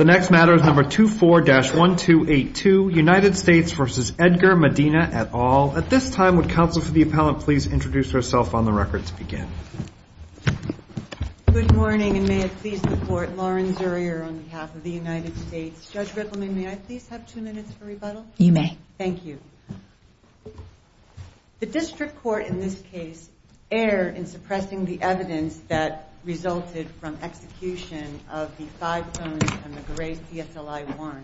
at all. At this time, would counsel for the appellant please introduce herself on the record to begin. Good morning and may it please the court, Lauren Zurier on behalf of the United States. Judge Rittleman, may I please have two minutes for rebuttal? You may. Thank you. The district court in this case erred in suppressing the evidence that resulted from execution of the five phones and the gray CSLI-1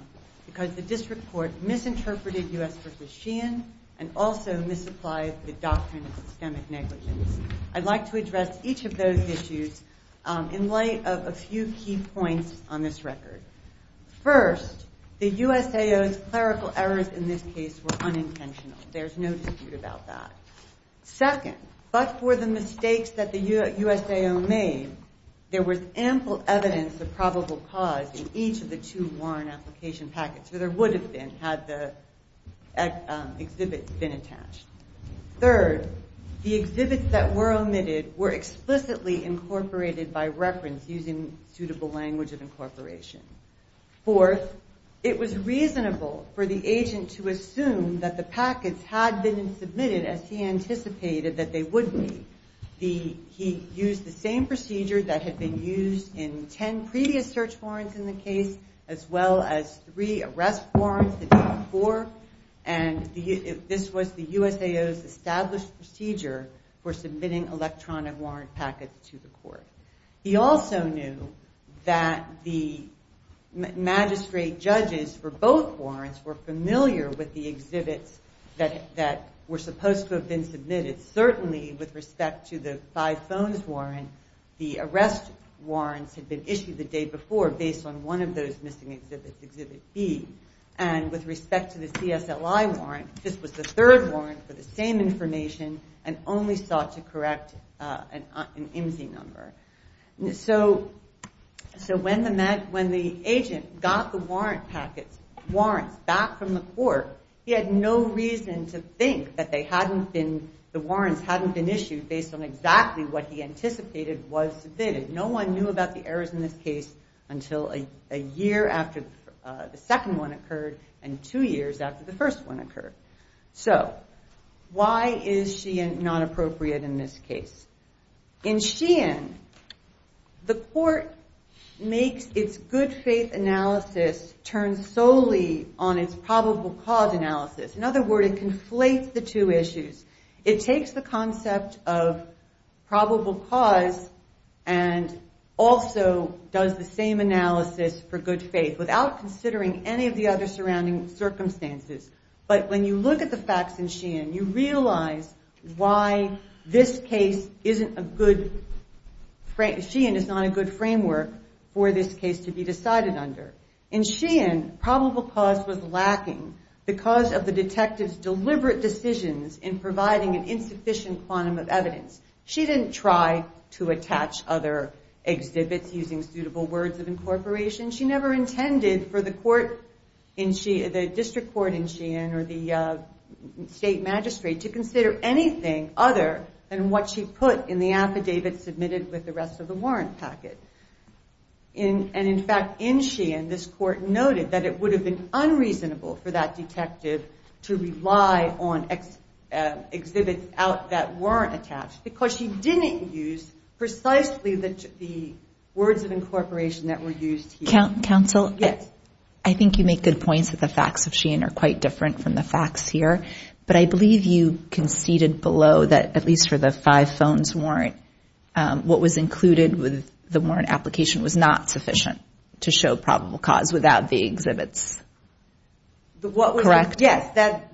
because the district court misinterpreted U.S. v. Sheehan and also misapplied the doctrine of systemic negligence. I'd like to address each of those issues in light of a few key points on this record. First, the USAO's clerical errors in this case were unintentional. There's no dispute about that. Second, but for the most part, there was ample evidence of probable cause in each of the two warrant application packets, or there would have been had the exhibits been attached. Third, the exhibits that were omitted were explicitly incorporated by reference using suitable language of incorporation. Fourth, it was reasonable for the agent to assume that the packets had been submitted as he knew that the magistrate judges for both warrants were familiar with the exhibits that were supposed to have been submitted. Certainly with respect to the five phones warrant, the arrest warrants had been issued the day before based on one of those missing exhibits, exhibit B. With respect to the CSLI warrant, this was the third warrant for the same information and only sought to correct an IMSI number. When the agent got the warrant packets, warrants back from the court, he had no reason to think that the warrants hadn't been issued based on exactly what he anticipated was submitted. No one knew about the errors in this case until a year after the second one occurred and two years after the first one occurred. So, why is Sheehan not appropriate in this case? In Sheehan, the court makes its good faith analysis turn solely on its probable cause analysis. In other words, it conflates the two issues. It takes the concept of probable cause and also does the same analysis for good faith without considering any of the other surrounding circumstances. But when you look at the facts in Sheehan, you realize why this case isn't a good, Sheehan is not a good framework for this case to be decided under. In Sheehan, probable cause was lacking because of the decisions in providing an insufficient quantum of evidence. She didn't try to attach other exhibits using suitable words of incorporation. She never intended for the district court in Sheehan or the state magistrate to consider anything other than what she put in the affidavit submitted with the rest of the warrant packet. And in fact, in Sheehan, this court noted that it would have been unreasonable for that detective to rely on exhibits out that weren't attached because she didn't use precisely the words of incorporation that were used here. Counsel, I think you make good points that the facts of Sheehan are quite different from the facts here, but I believe you conceded below that at least for the five phones warrant, what was included with the warrant application was not sufficient to show probable cause without the exhibits. Correct? Yes,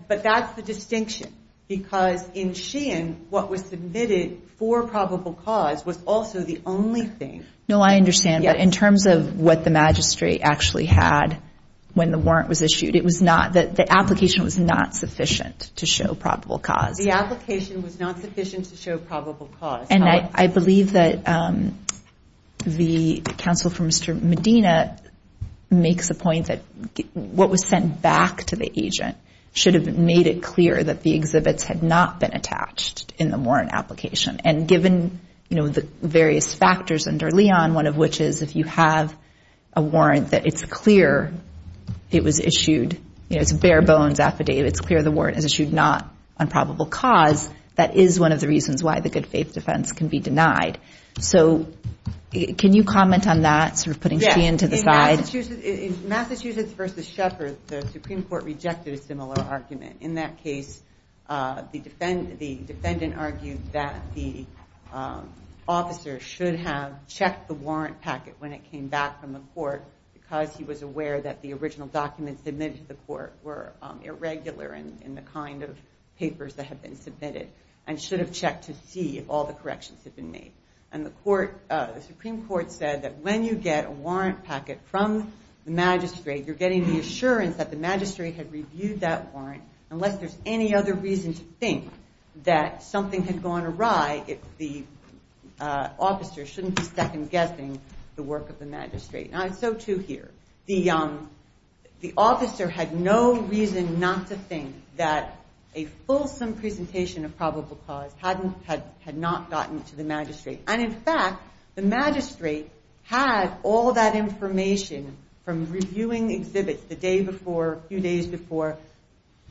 but that's the distinction. Because in Sheehan, what was submitted for probable cause was also the only thing. No, I understand, but in terms of what the magistrate actually had when the warrant was issued, it was not that the application was not sufficient to show probable cause. The application was not sufficient to show probable cause. And I believe that the what was sent back to the agent should have made it clear that the exhibits had not been attached in the warrant application. And given, you know, the various factors under Leon, one of which is if you have a warrant that it's clear it was issued, you know, it's bare bones affidavit, it's clear the warrant is issued not on probable cause, that is one of the reasons why the good faith defense can be denied. So can you comment on that, sort of putting Sheehan to the side? In Massachusetts v. Shepard, the Supreme Court rejected a similar argument. In that case, the defendant argued that the officer should have checked the warrant packet when it came back from the court because he was aware that the original documents submitted to the court were irregular in the kind of papers that had been submitted and should have checked to see if all the documents were correct. So the defense argued that when you get a warrant packet from the magistrate, you're getting the assurance that the magistrate had reviewed that warrant, unless there's any other reason to think that something had gone awry, the officer shouldn't be second-guessing the work of the magistrate. Now, so, too, here. The officer had no reason not to think that a fulsome presentation of probable cause had not gotten to the magistrate. And, in fact, the magistrate had all that information from reviewing exhibits the day before, a few days before,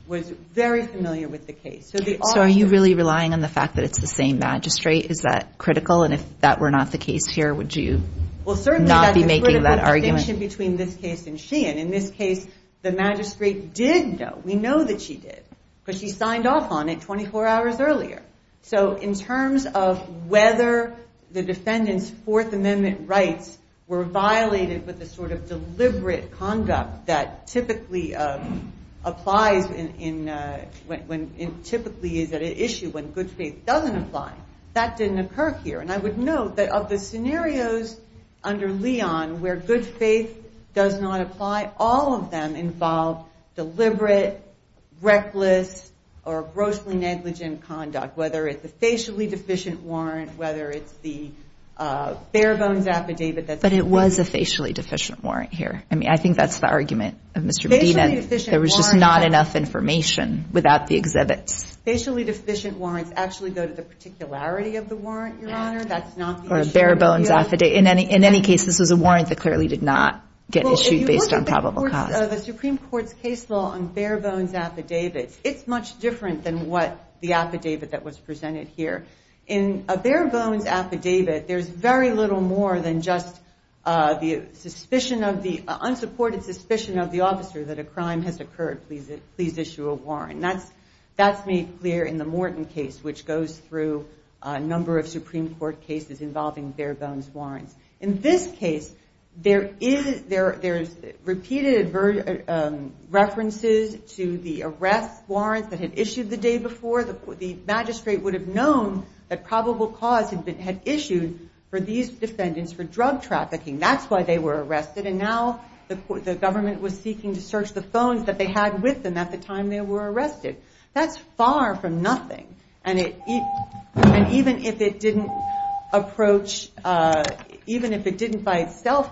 was very familiar with the case. So are you really relying on the fact that it's the same magistrate? Is that critical? And if that were not the case here, would you not be making that argument? Well, certainly that's a critical distinction between this case and Sheehan. In this case, the magistrate did know, we know that she did, because she signed off on it 24 hours earlier. So in terms of whether the defendant's Fourth Amendment rights were violated with a sort of deliberate conduct that typically applies when, typically is at issue when good faith doesn't apply, that didn't occur here. And I would note that of the scenarios under Leon where good faith does not apply, all of them involved deliberate, reckless, or grossly negligent conduct, whether it's a facially deficient warrant, whether it's the bare-bones affidavit. But it was a facially deficient warrant here. I mean, I think that's the argument of Mr. Medina. There was just not enough information without the exhibits. Facially deficient warrants actually go to the particularity of the warrant, Your Honor. Or a bare-bones affidavit. In any case, this was a warrant that clearly did not get issued based on probable cause. If you look at the Supreme Court's case law on bare-bones affidavits, it's much different than what the affidavit that was presented here. In a bare-bones affidavit, there's very little more than just the unsupported suspicion of the officer that a crime has occurred. Please issue a warrant. And that's made clear in the Morton case, which goes through a number of Supreme Court cases involving bare-bones warrants. There's repeated references to the arrest warrants that had issued the day before. The magistrate would have known that probable cause had been issued for these defendants for drug trafficking. That's why they were arrested. And now the government was seeking to search the phones that they had with them at the time they were arrested. That's far from nothing. And even if it didn't approach, even if it didn't by itself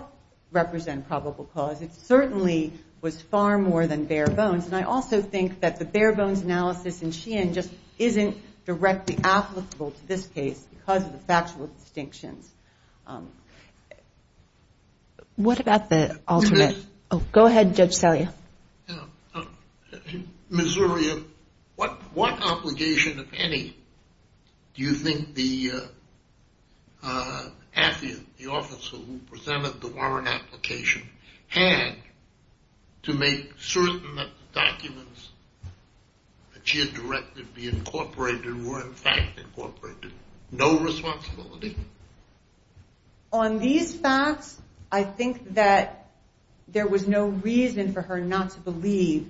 represent probable cause, it would have been probable cause. It certainly was far more than bare-bones. And I also think that the bare-bones analysis in Sheehan just isn't directly applicable to this case because of the factual distinctions. What about the ultimate? Go ahead, Judge Selye. Missouria, what obligation, if any, do you think the affidavit, the officer who presented the warrant application, had to make certain that the documents that she had directed be incorporated were in fact incorporated? No responsibility? On these facts, I think that there was no reason for her not to believe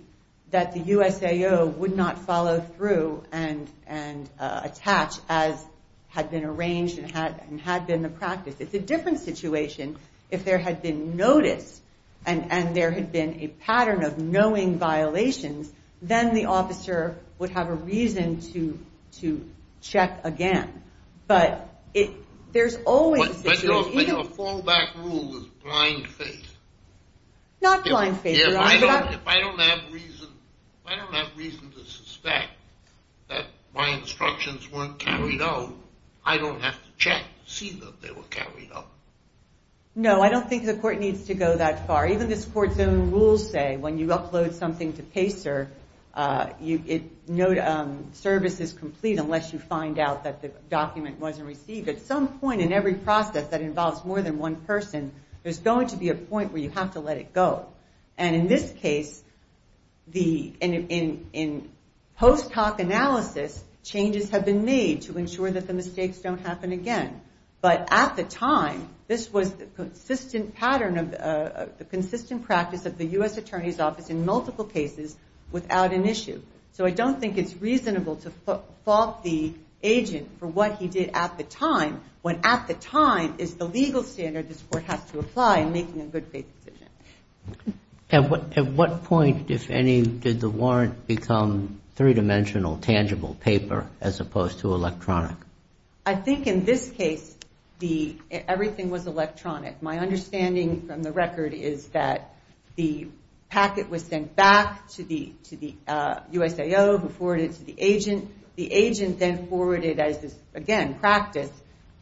that the USAO would not follow through and attach, as had been arranged and had been the practice. It's a different situation if there had been notice and there had been a pattern of knowing violations, then the officer would have a reason to check again. But there's always a situation. But your fallback rule was blind faith. Not blind faith. If I don't have reason to suspect that my instructions weren't carried out, I don't have to check to see that they were carried out. No service is complete unless you find out that the document wasn't received. At some point in every process that involves more than one person, there's going to be a point where you have to let it go. And in this case, in post hoc analysis, changes have been made to ensure that the mistakes don't happen again. But at the time, this was the consistent pattern of the consistent practice of the US attorney's office in multiple cases without an issue. So I don't think it's reasonable to fault the agent for what he did at the time, when at the time is the legal standard this court has to apply in making a good faith decision. At what point, if any, did the warrant become three-dimensional, tangible paper as opposed to electronic? I think in this case, everything was electronic. My understanding from the record is that the packet was sent back to the USIO who forwarded it to the agent. The agent then forwarded, as is again practice,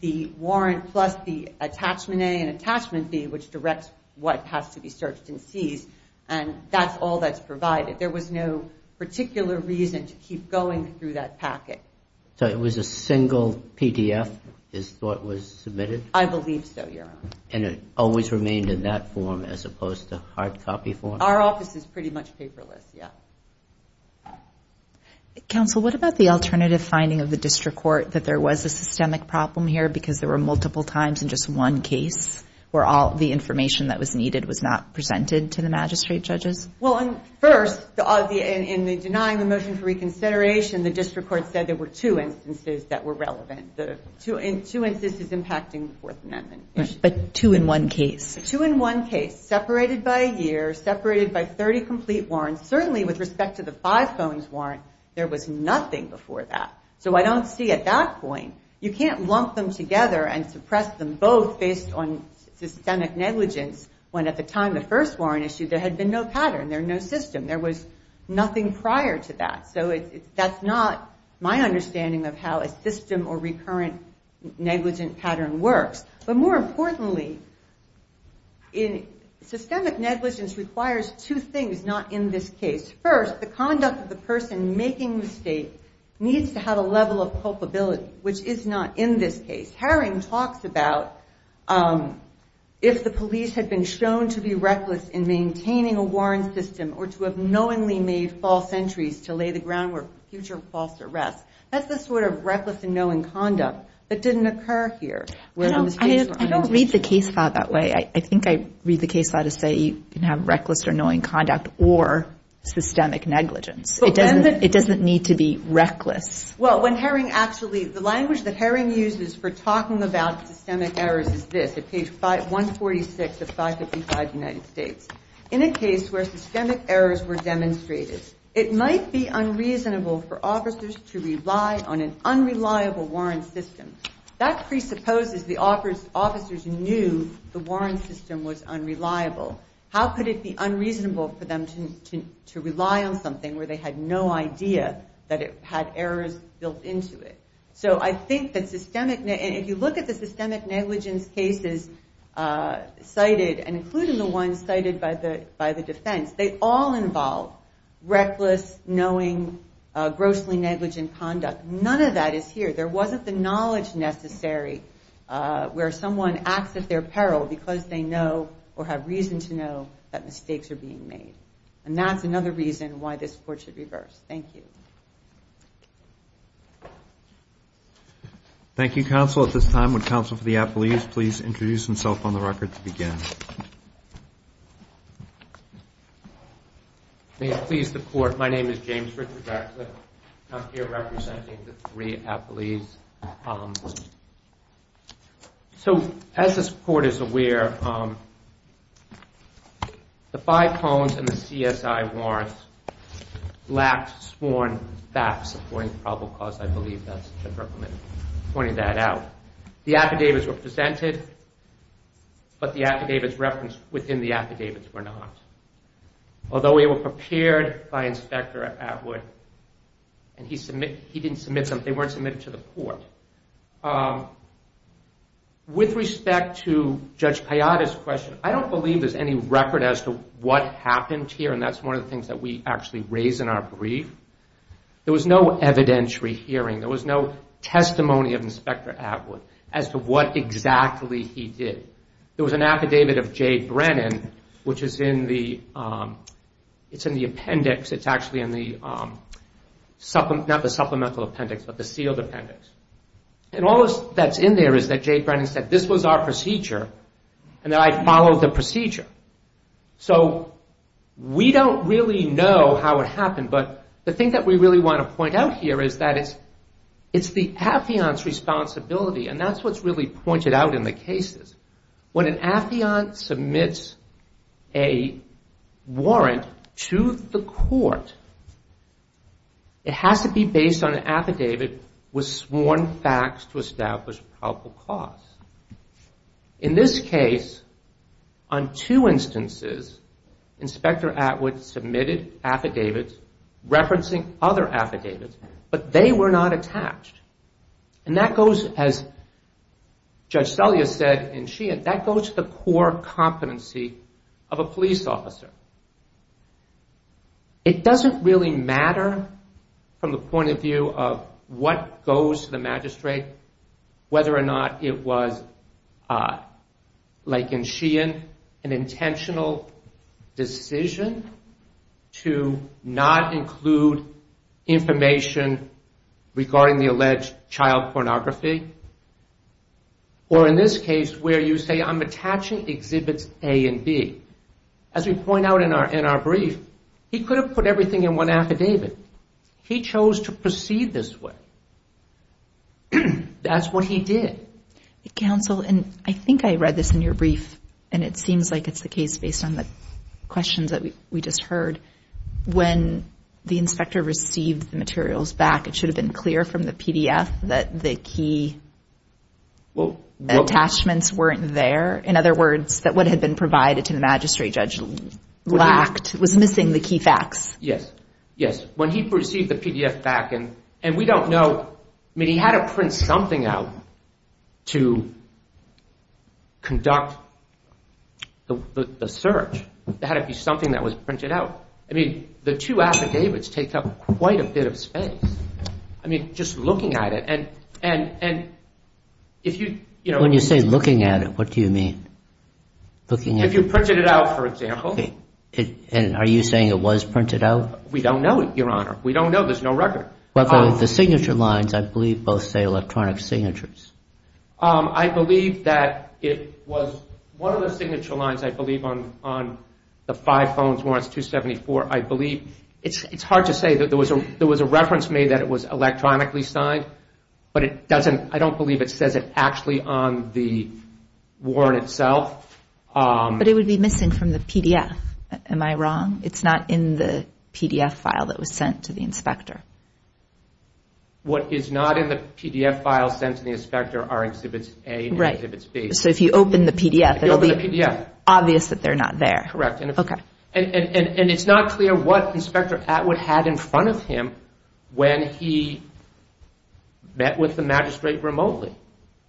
the warrant plus the attachment A and attachment B, which directs what has to be searched and seized. And that's all that's provided. There was no particular reason to keep going through that packet. So it was a single PDF is what was submitted? I believe so, Your Honor. And it always remained in that form as opposed to hard copy form? Our office is pretty much paperless, yeah. Counsel, what about the alternative finding of the district court, that there was a systemic problem here because there were multiple times in just one case where all the information that was needed was not presented to the magistrate judges? Well, first, in denying the motion for reconsideration, the district court said there were two instances that were relevant. Two instances impacting the Fourth Amendment. But two in one case. Two in one case, separated by a year, separated by 30 complete warrants, certainly with respect to the five phones warrant, there was nothing before that. So I don't see at that point, you can't lump them together and suppress them both based on systemic negligence when at the time the first warrant issued, there had been no pattern, there was no system, there was nothing prior to that. So that's not my understanding of how a system or recurrent negligent pattern works. But more importantly, systemic negligence requires two things, not in this case. First, the conduct of the person making the state needs to have a level of culpability, which is not in this case. Herring talks about if the police had been shown to be reckless in maintaining a warrant system or to have knowingly made false entries to lay the groundwork for future false arrests. I don't read the case law that way. I think I read the case law to say you can have reckless or knowing conduct or systemic negligence. It doesn't need to be reckless. Well, when Herring actually, the language that Herring uses for talking about systemic errors is this, at page 146 of 555 United States. In a case where systemic errors were demonstrated, it might be unreasonable for officers to rely on an unreliable warrant system. That presupposes the officers knew the warrant system was unreliable. How could it be unreasonable for them to rely on something where they had no idea that it had errors built into it? So I think that systemic, and if you look at the systemic negligence cases cited and including the ones cited by the defense, they all involve reckless, knowing, grossly negligent conduct. None of that is here. There wasn't the knowledge necessary where someone acts at their peril because they know or have reason to know that mistakes are being made. And that's another reason why this court should reverse. Thank you. Thank you, counsel. At this time, would counsel for the appellees please introduce themselves on the record to begin? Please, the court. My name is James Richard Radcliffe. I'm here representing the three appellees. So as this court is aware, the five cones and the CSI warrants lack sworn testimony. I'm back supporting probable cause. I believe that's a good recommendation, pointing that out. The affidavits were presented, but the affidavits referenced within the affidavits were not. Although they were prepared by Inspector Atwood, and he didn't submit them, they weren't submitted to the court. With respect to Judge Payada's question, I don't believe there's any record as to what happened here, and that's one of the things that we actually raise in our brief. There was no evidentiary hearing. There was no testimony of Inspector Atwood as to what exactly he did. There was an affidavit of Jay Brennan, which is in the appendix. It's actually in the sealed appendix. And all that's in there is that Jay Brennan said, this was our procedure, and that I followed the procedure. So we don't really know how it happened, but the thing that we really want to point out here is that it's the affiant's responsibility, and that's what's really pointed out in the cases. When an affiant submits a warrant to the court, it has to be based on an affidavit with sworn facts to establish probable cause. In this case, on two instances, Inspector Atwood submitted affidavits referencing other affidavits, but they were not attached. And that goes, as Judge Selya said, and she had, that goes to the core competency of a police officer. It doesn't really matter from the point of view of what goes to the magistrate, whether or not it was an affidavit, whether or not it was, like in Sheehan, an intentional decision to not include information regarding the alleged child pornography, or in this case, where you say, I'm attaching exhibits A and B. As we point out in our brief, he could have put everything in one affidavit. He chose to proceed this way. That's what he did. Counsel, and I think I read this in your brief, and it seems like it's the case based on the questions that we just heard. When the inspector received the materials back, it should have been clear from the PDF that the key attachments weren't there. In other words, that what had been provided to the magistrate judge lacked, was missing the key facts. Yes, yes. When he received the PDF back, and we don't know, I mean, he had to print something out to conduct the search. It had to be something that was printed out. I mean, the two affidavits take up quite a bit of space. I mean, just looking at it, and if you... When you say looking at it, what do you mean? If you printed it out, for example. Are you saying it was printed out? We don't know, Your Honor. We don't know, there's no record. I believe that it was one of the signature lines, I believe, on the five phones warrants 274. It's hard to say. There was a reference made that it was electronically signed, but I don't believe it says it actually on the warrant itself. But it would be missing from the PDF, am I wrong? What is not in the PDF file sent to the inspector are Exhibits A and Exhibits B. So if you open the PDF, it will be obvious that they're not there. Correct. And it's not clear what Inspector Atwood had in front of him when he met with the magistrate remotely.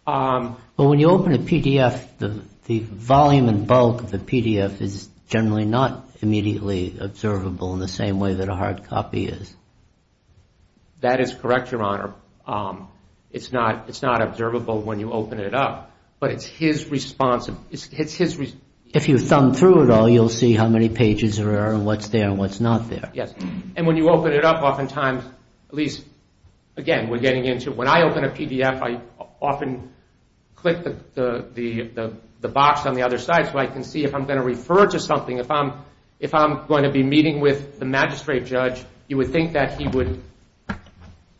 Well, when you open a PDF, the volume and bulk of the PDF is generally not immediately observable in the same way that a hard copy is. That is correct, Your Honor. It's not observable when you open it up, but it's his response. If you thumb through it all, you'll see how many pages there are and what's there and what's not there. Yes, and when you open it up, oftentimes, at least, again, we're getting into when I open a PDF, I often click the box on the other side so I can see if I'm going to refer to something. If I'm going to be meeting with the magistrate judge, you would think that he would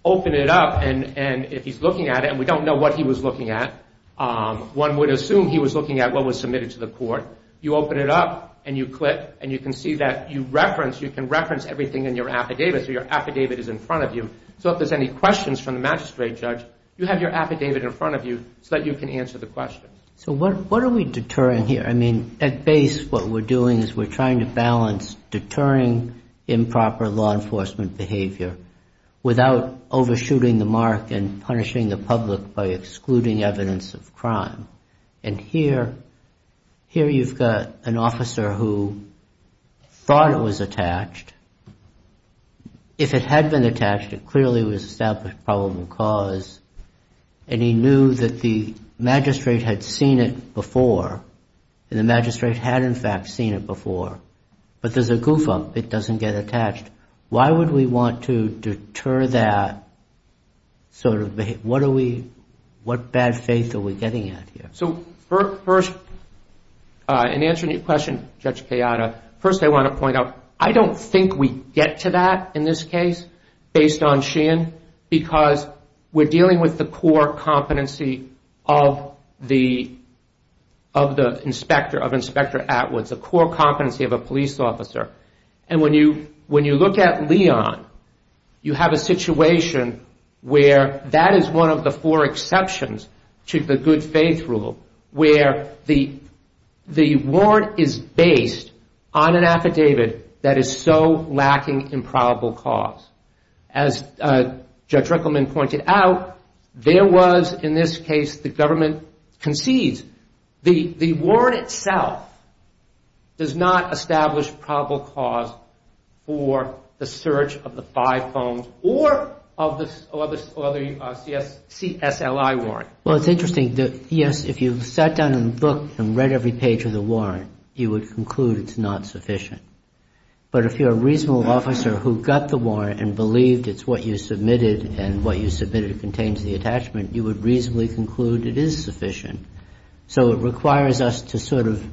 open it up and if he's looking at it, and we don't know what he was looking at, one would assume he was looking at what was submitted to the court. You open it up and you click and you can see that you can reference everything in your affidavit. So your affidavit is in front of you. So if there's any questions from the magistrate judge, you have your affidavit in front of you so that you can answer the questions. So what are we deterring here? I mean, at base, what we're doing is we're trying to balance deterring improper law enforcement behavior without overshooting the mark and punishing the public by excluding evidence of crime. And here you've got an officer who thought it was attached. If it had been attached, it clearly was established probable cause and he knew that the magistrate had seen it before and the magistrate had in fact seen it before, but there's a goof up. It doesn't get attached. Why would we want to deter that sort of behavior? What bad faith are we getting at here? In answering your question, Judge Kayada, first I want to point out, I don't think we get to that in this case based on Sheehan because we're dealing with the core competency of Inspector Atwood, the core competency of a police officer. And when you look at Leon, you have a situation where that is one of the four exceptions to the good faith rule where the warrant is based on an affidavit that is so lacking in probable cause. As Judge Rickleman pointed out, there was, in this case, the government concedes. The warrant itself does not establish probable cause for the search of the five S.L.I. warrant. But if you're a reasonable officer who got the warrant and believed it's what you submitted and what you submitted contains the attachment, you would reasonably conclude it is sufficient. So it requires us to sort of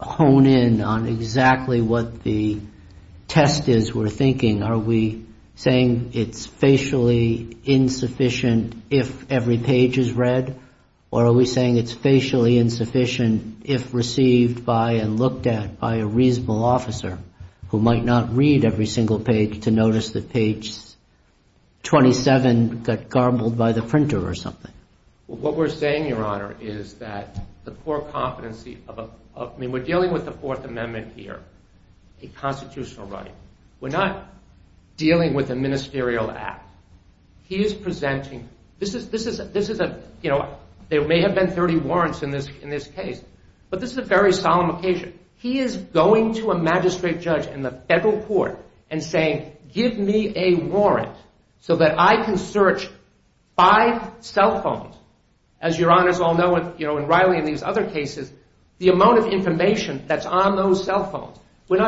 hone in on exactly what the test is we're thinking. Are we saying it's facially insufficient if every page is read or are we saying it's facially insufficient if received by and looked at by a reasonable officer who might not read every single page to notice that page 27 got garbled by the printer or something? What we're saying, Your Honor, is that the core competency of, I mean, we're dealing with the Fourth Amendment here, a constitutional right. We're not dealing with a ministerial act. He is presenting, this is a, you know, there may have been 30 warrants in this case, but this is a very solemn occasion. He is going to a magistrate judge in the federal court and saying, give me a warrant so that I can search five cell phones. As Your Honors all know, and Riley and these other cases, the amount of information that's on those cell phones, we're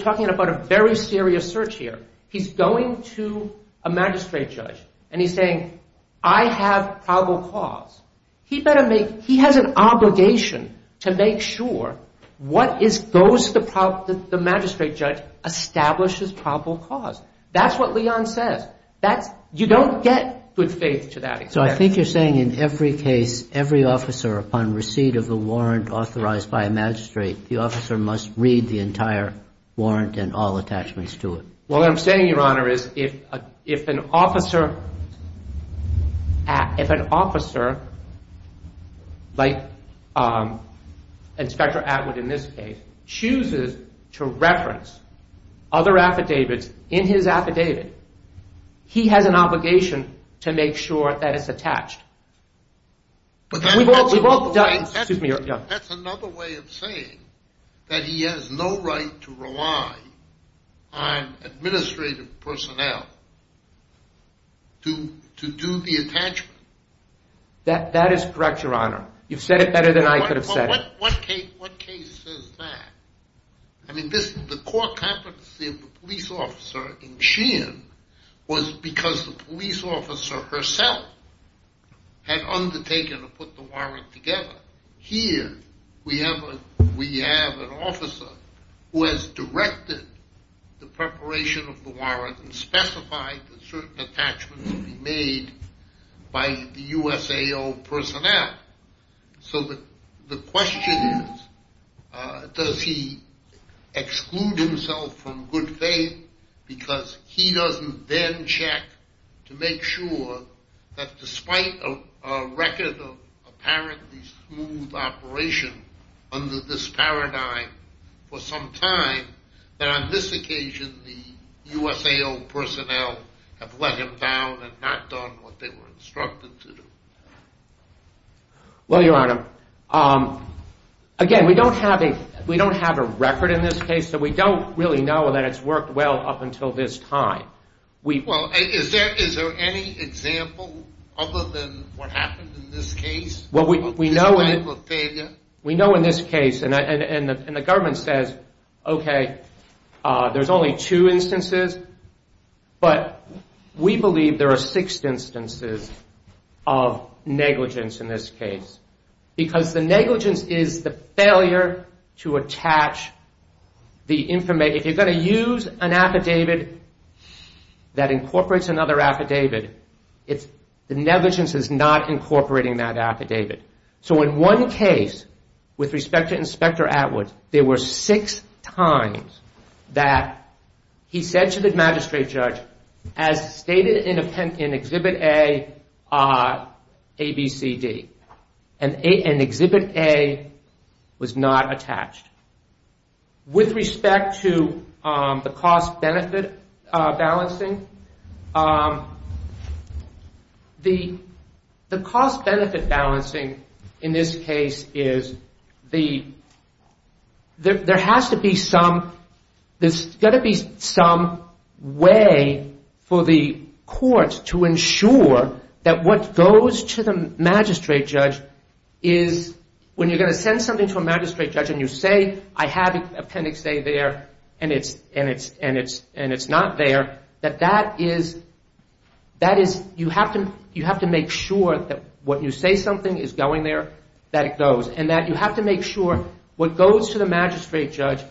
talking about a very serious search here. He's going to a magistrate judge and he's saying, I have probable cause. He better make, he has an obligation to make sure what goes to the magistrate judge establishes probable cause. That's what Leon says. You don't get good faith to that. So I think you're saying in every case, every officer upon receipt of the warrant authorized by a magistrate, the officer must read the entire warrant and all attachments to it. What I'm saying, Your Honor, is if an officer, like Inspector Atwood in this case, chooses to reference other affidavits in his affidavit, he has an obligation to make sure that it's attached. That's another way of saying that he has no right to rely on administrative personnel to do the attachment. That is correct, Your Honor. You've said it better than I could have said it. What case says that? The core competency of the police officer in Sheehan was because the police officer herself had undertaken to put the warrant together. Here we have an officer who has directed the preparation of the warrant and specified that certain attachments would be made by the USAO personnel. So the question is, does he exclude himself from good faith because he doesn't then check to make sure that despite a record of apparently smooth operation under this paradigm for some time, that on this occasion the USAO personnel have let him down and not done what they were instructed to do? Well, Your Honor, again, we don't have a record in this case, so we don't really know that it's worked well up until this time. Is there any example other than what happened in this case? Well, we know in this case, and the government says, okay, there's only two instances, but we believe there are six instances of negligence in this case because the negligence is the failure to attach the information. If you're going to use an affidavit that incorporates another affidavit, the negligence is not incorporating that affidavit. So in one case, with respect to Inspector Atwood, there were six times that he said to the magistrate judge, as stated in Exhibit A, A, B, C, D, and Exhibit A was not attached. With respect to the cost-benefit balancing, the cost-benefit balancing in this case is the there has to be some, there's got to be some way for the court to ensure that what goes to the appendix A, I have appendix A there, and it's not there, that that is, you have to make sure that what you say something is going there, that it goes, and that you have to make sure what goes to the magistrate judge,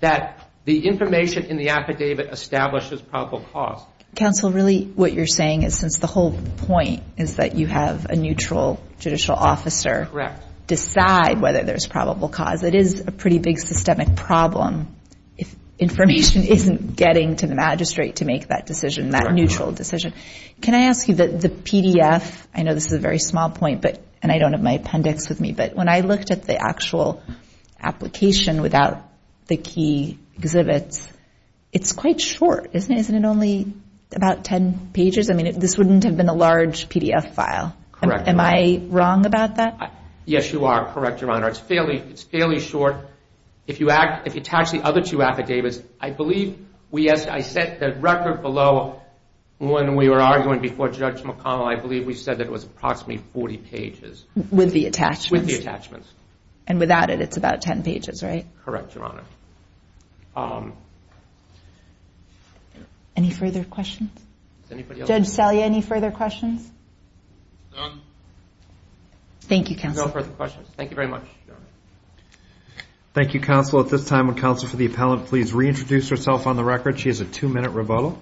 that the information in the affidavit establishes probable cause. Counsel, really what you're saying is since the whole point is that you have a neutral judicial officer decide whether there's probable cause, it is a pretty big systemic problem if information isn't getting to the magistrate to make that decision, that neutral decision. Can I ask you, the PDF, I know this is a very small point, and I don't have my appendix with me, but when I looked at the actual application without the key exhibits, it's quite short, isn't it? Isn't it only about ten pages? I mean, this wouldn't have been a large PDF file. Am I wrong about that? Yes, you are correct, Your Honor. It's fairly short. If you attach the other two affidavits, I believe, I set the record below when we were arguing before Judge McConnell, I believe we said that it was approximately 40 pages. With the attachments. With the attachments. And without it, it's about ten pages, right? Correct, Your Honor. Any further questions? Judge Salia, any further questions? None. Thank you, Counsel. No further questions. Thank you very much, Your Honor. Thank you, Counsel. At this time, would Counsel for the Appellant please reintroduce herself on the record? She has a two-minute rebuttal.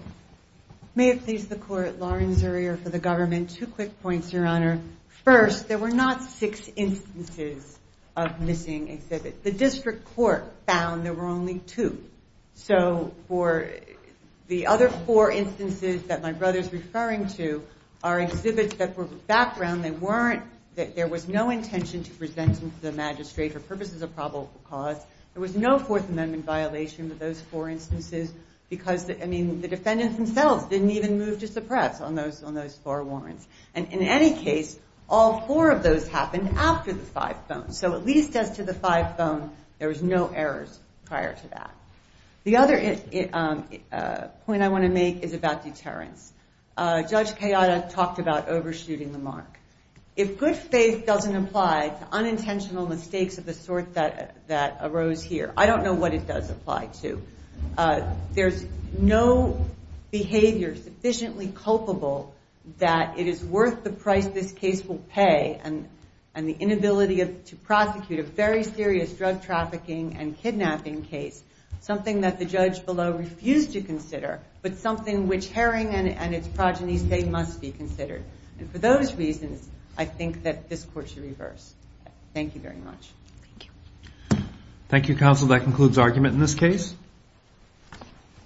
May it please the Court, Lauren Zurier for the Government. Two quick points, Your Honor. First, there were not six instances of missing exhibits. The District Court found there were only two. So for the other four instances that my brother is referring to are exhibits that were background. They weren't, there was no intention to present them to the magistrate for purposes of probable cause. There was no Fourth Amendment violation with those four instances because, I mean, the defendants themselves didn't even move to suppress on those four warrants. And in any case, all four of those happened after the five phone. So at least as to the five phone, there was no errors prior to that. The other point I want to make is about deterrence. Judge Kayada talked about overshooting the mark. If good faith doesn't apply to unintentional mistakes of the sort that arose here, I don't know what it does apply to. There's no behavior sufficiently culpable that it is worth the price this case will pay and the inability to prosecute a very serious drug trafficking and kidnapping case, something that the judge below refused to consider, but something which Herring and its progeny say must be considered. And for those reasons, I think that this Court should reverse. Thank you very much.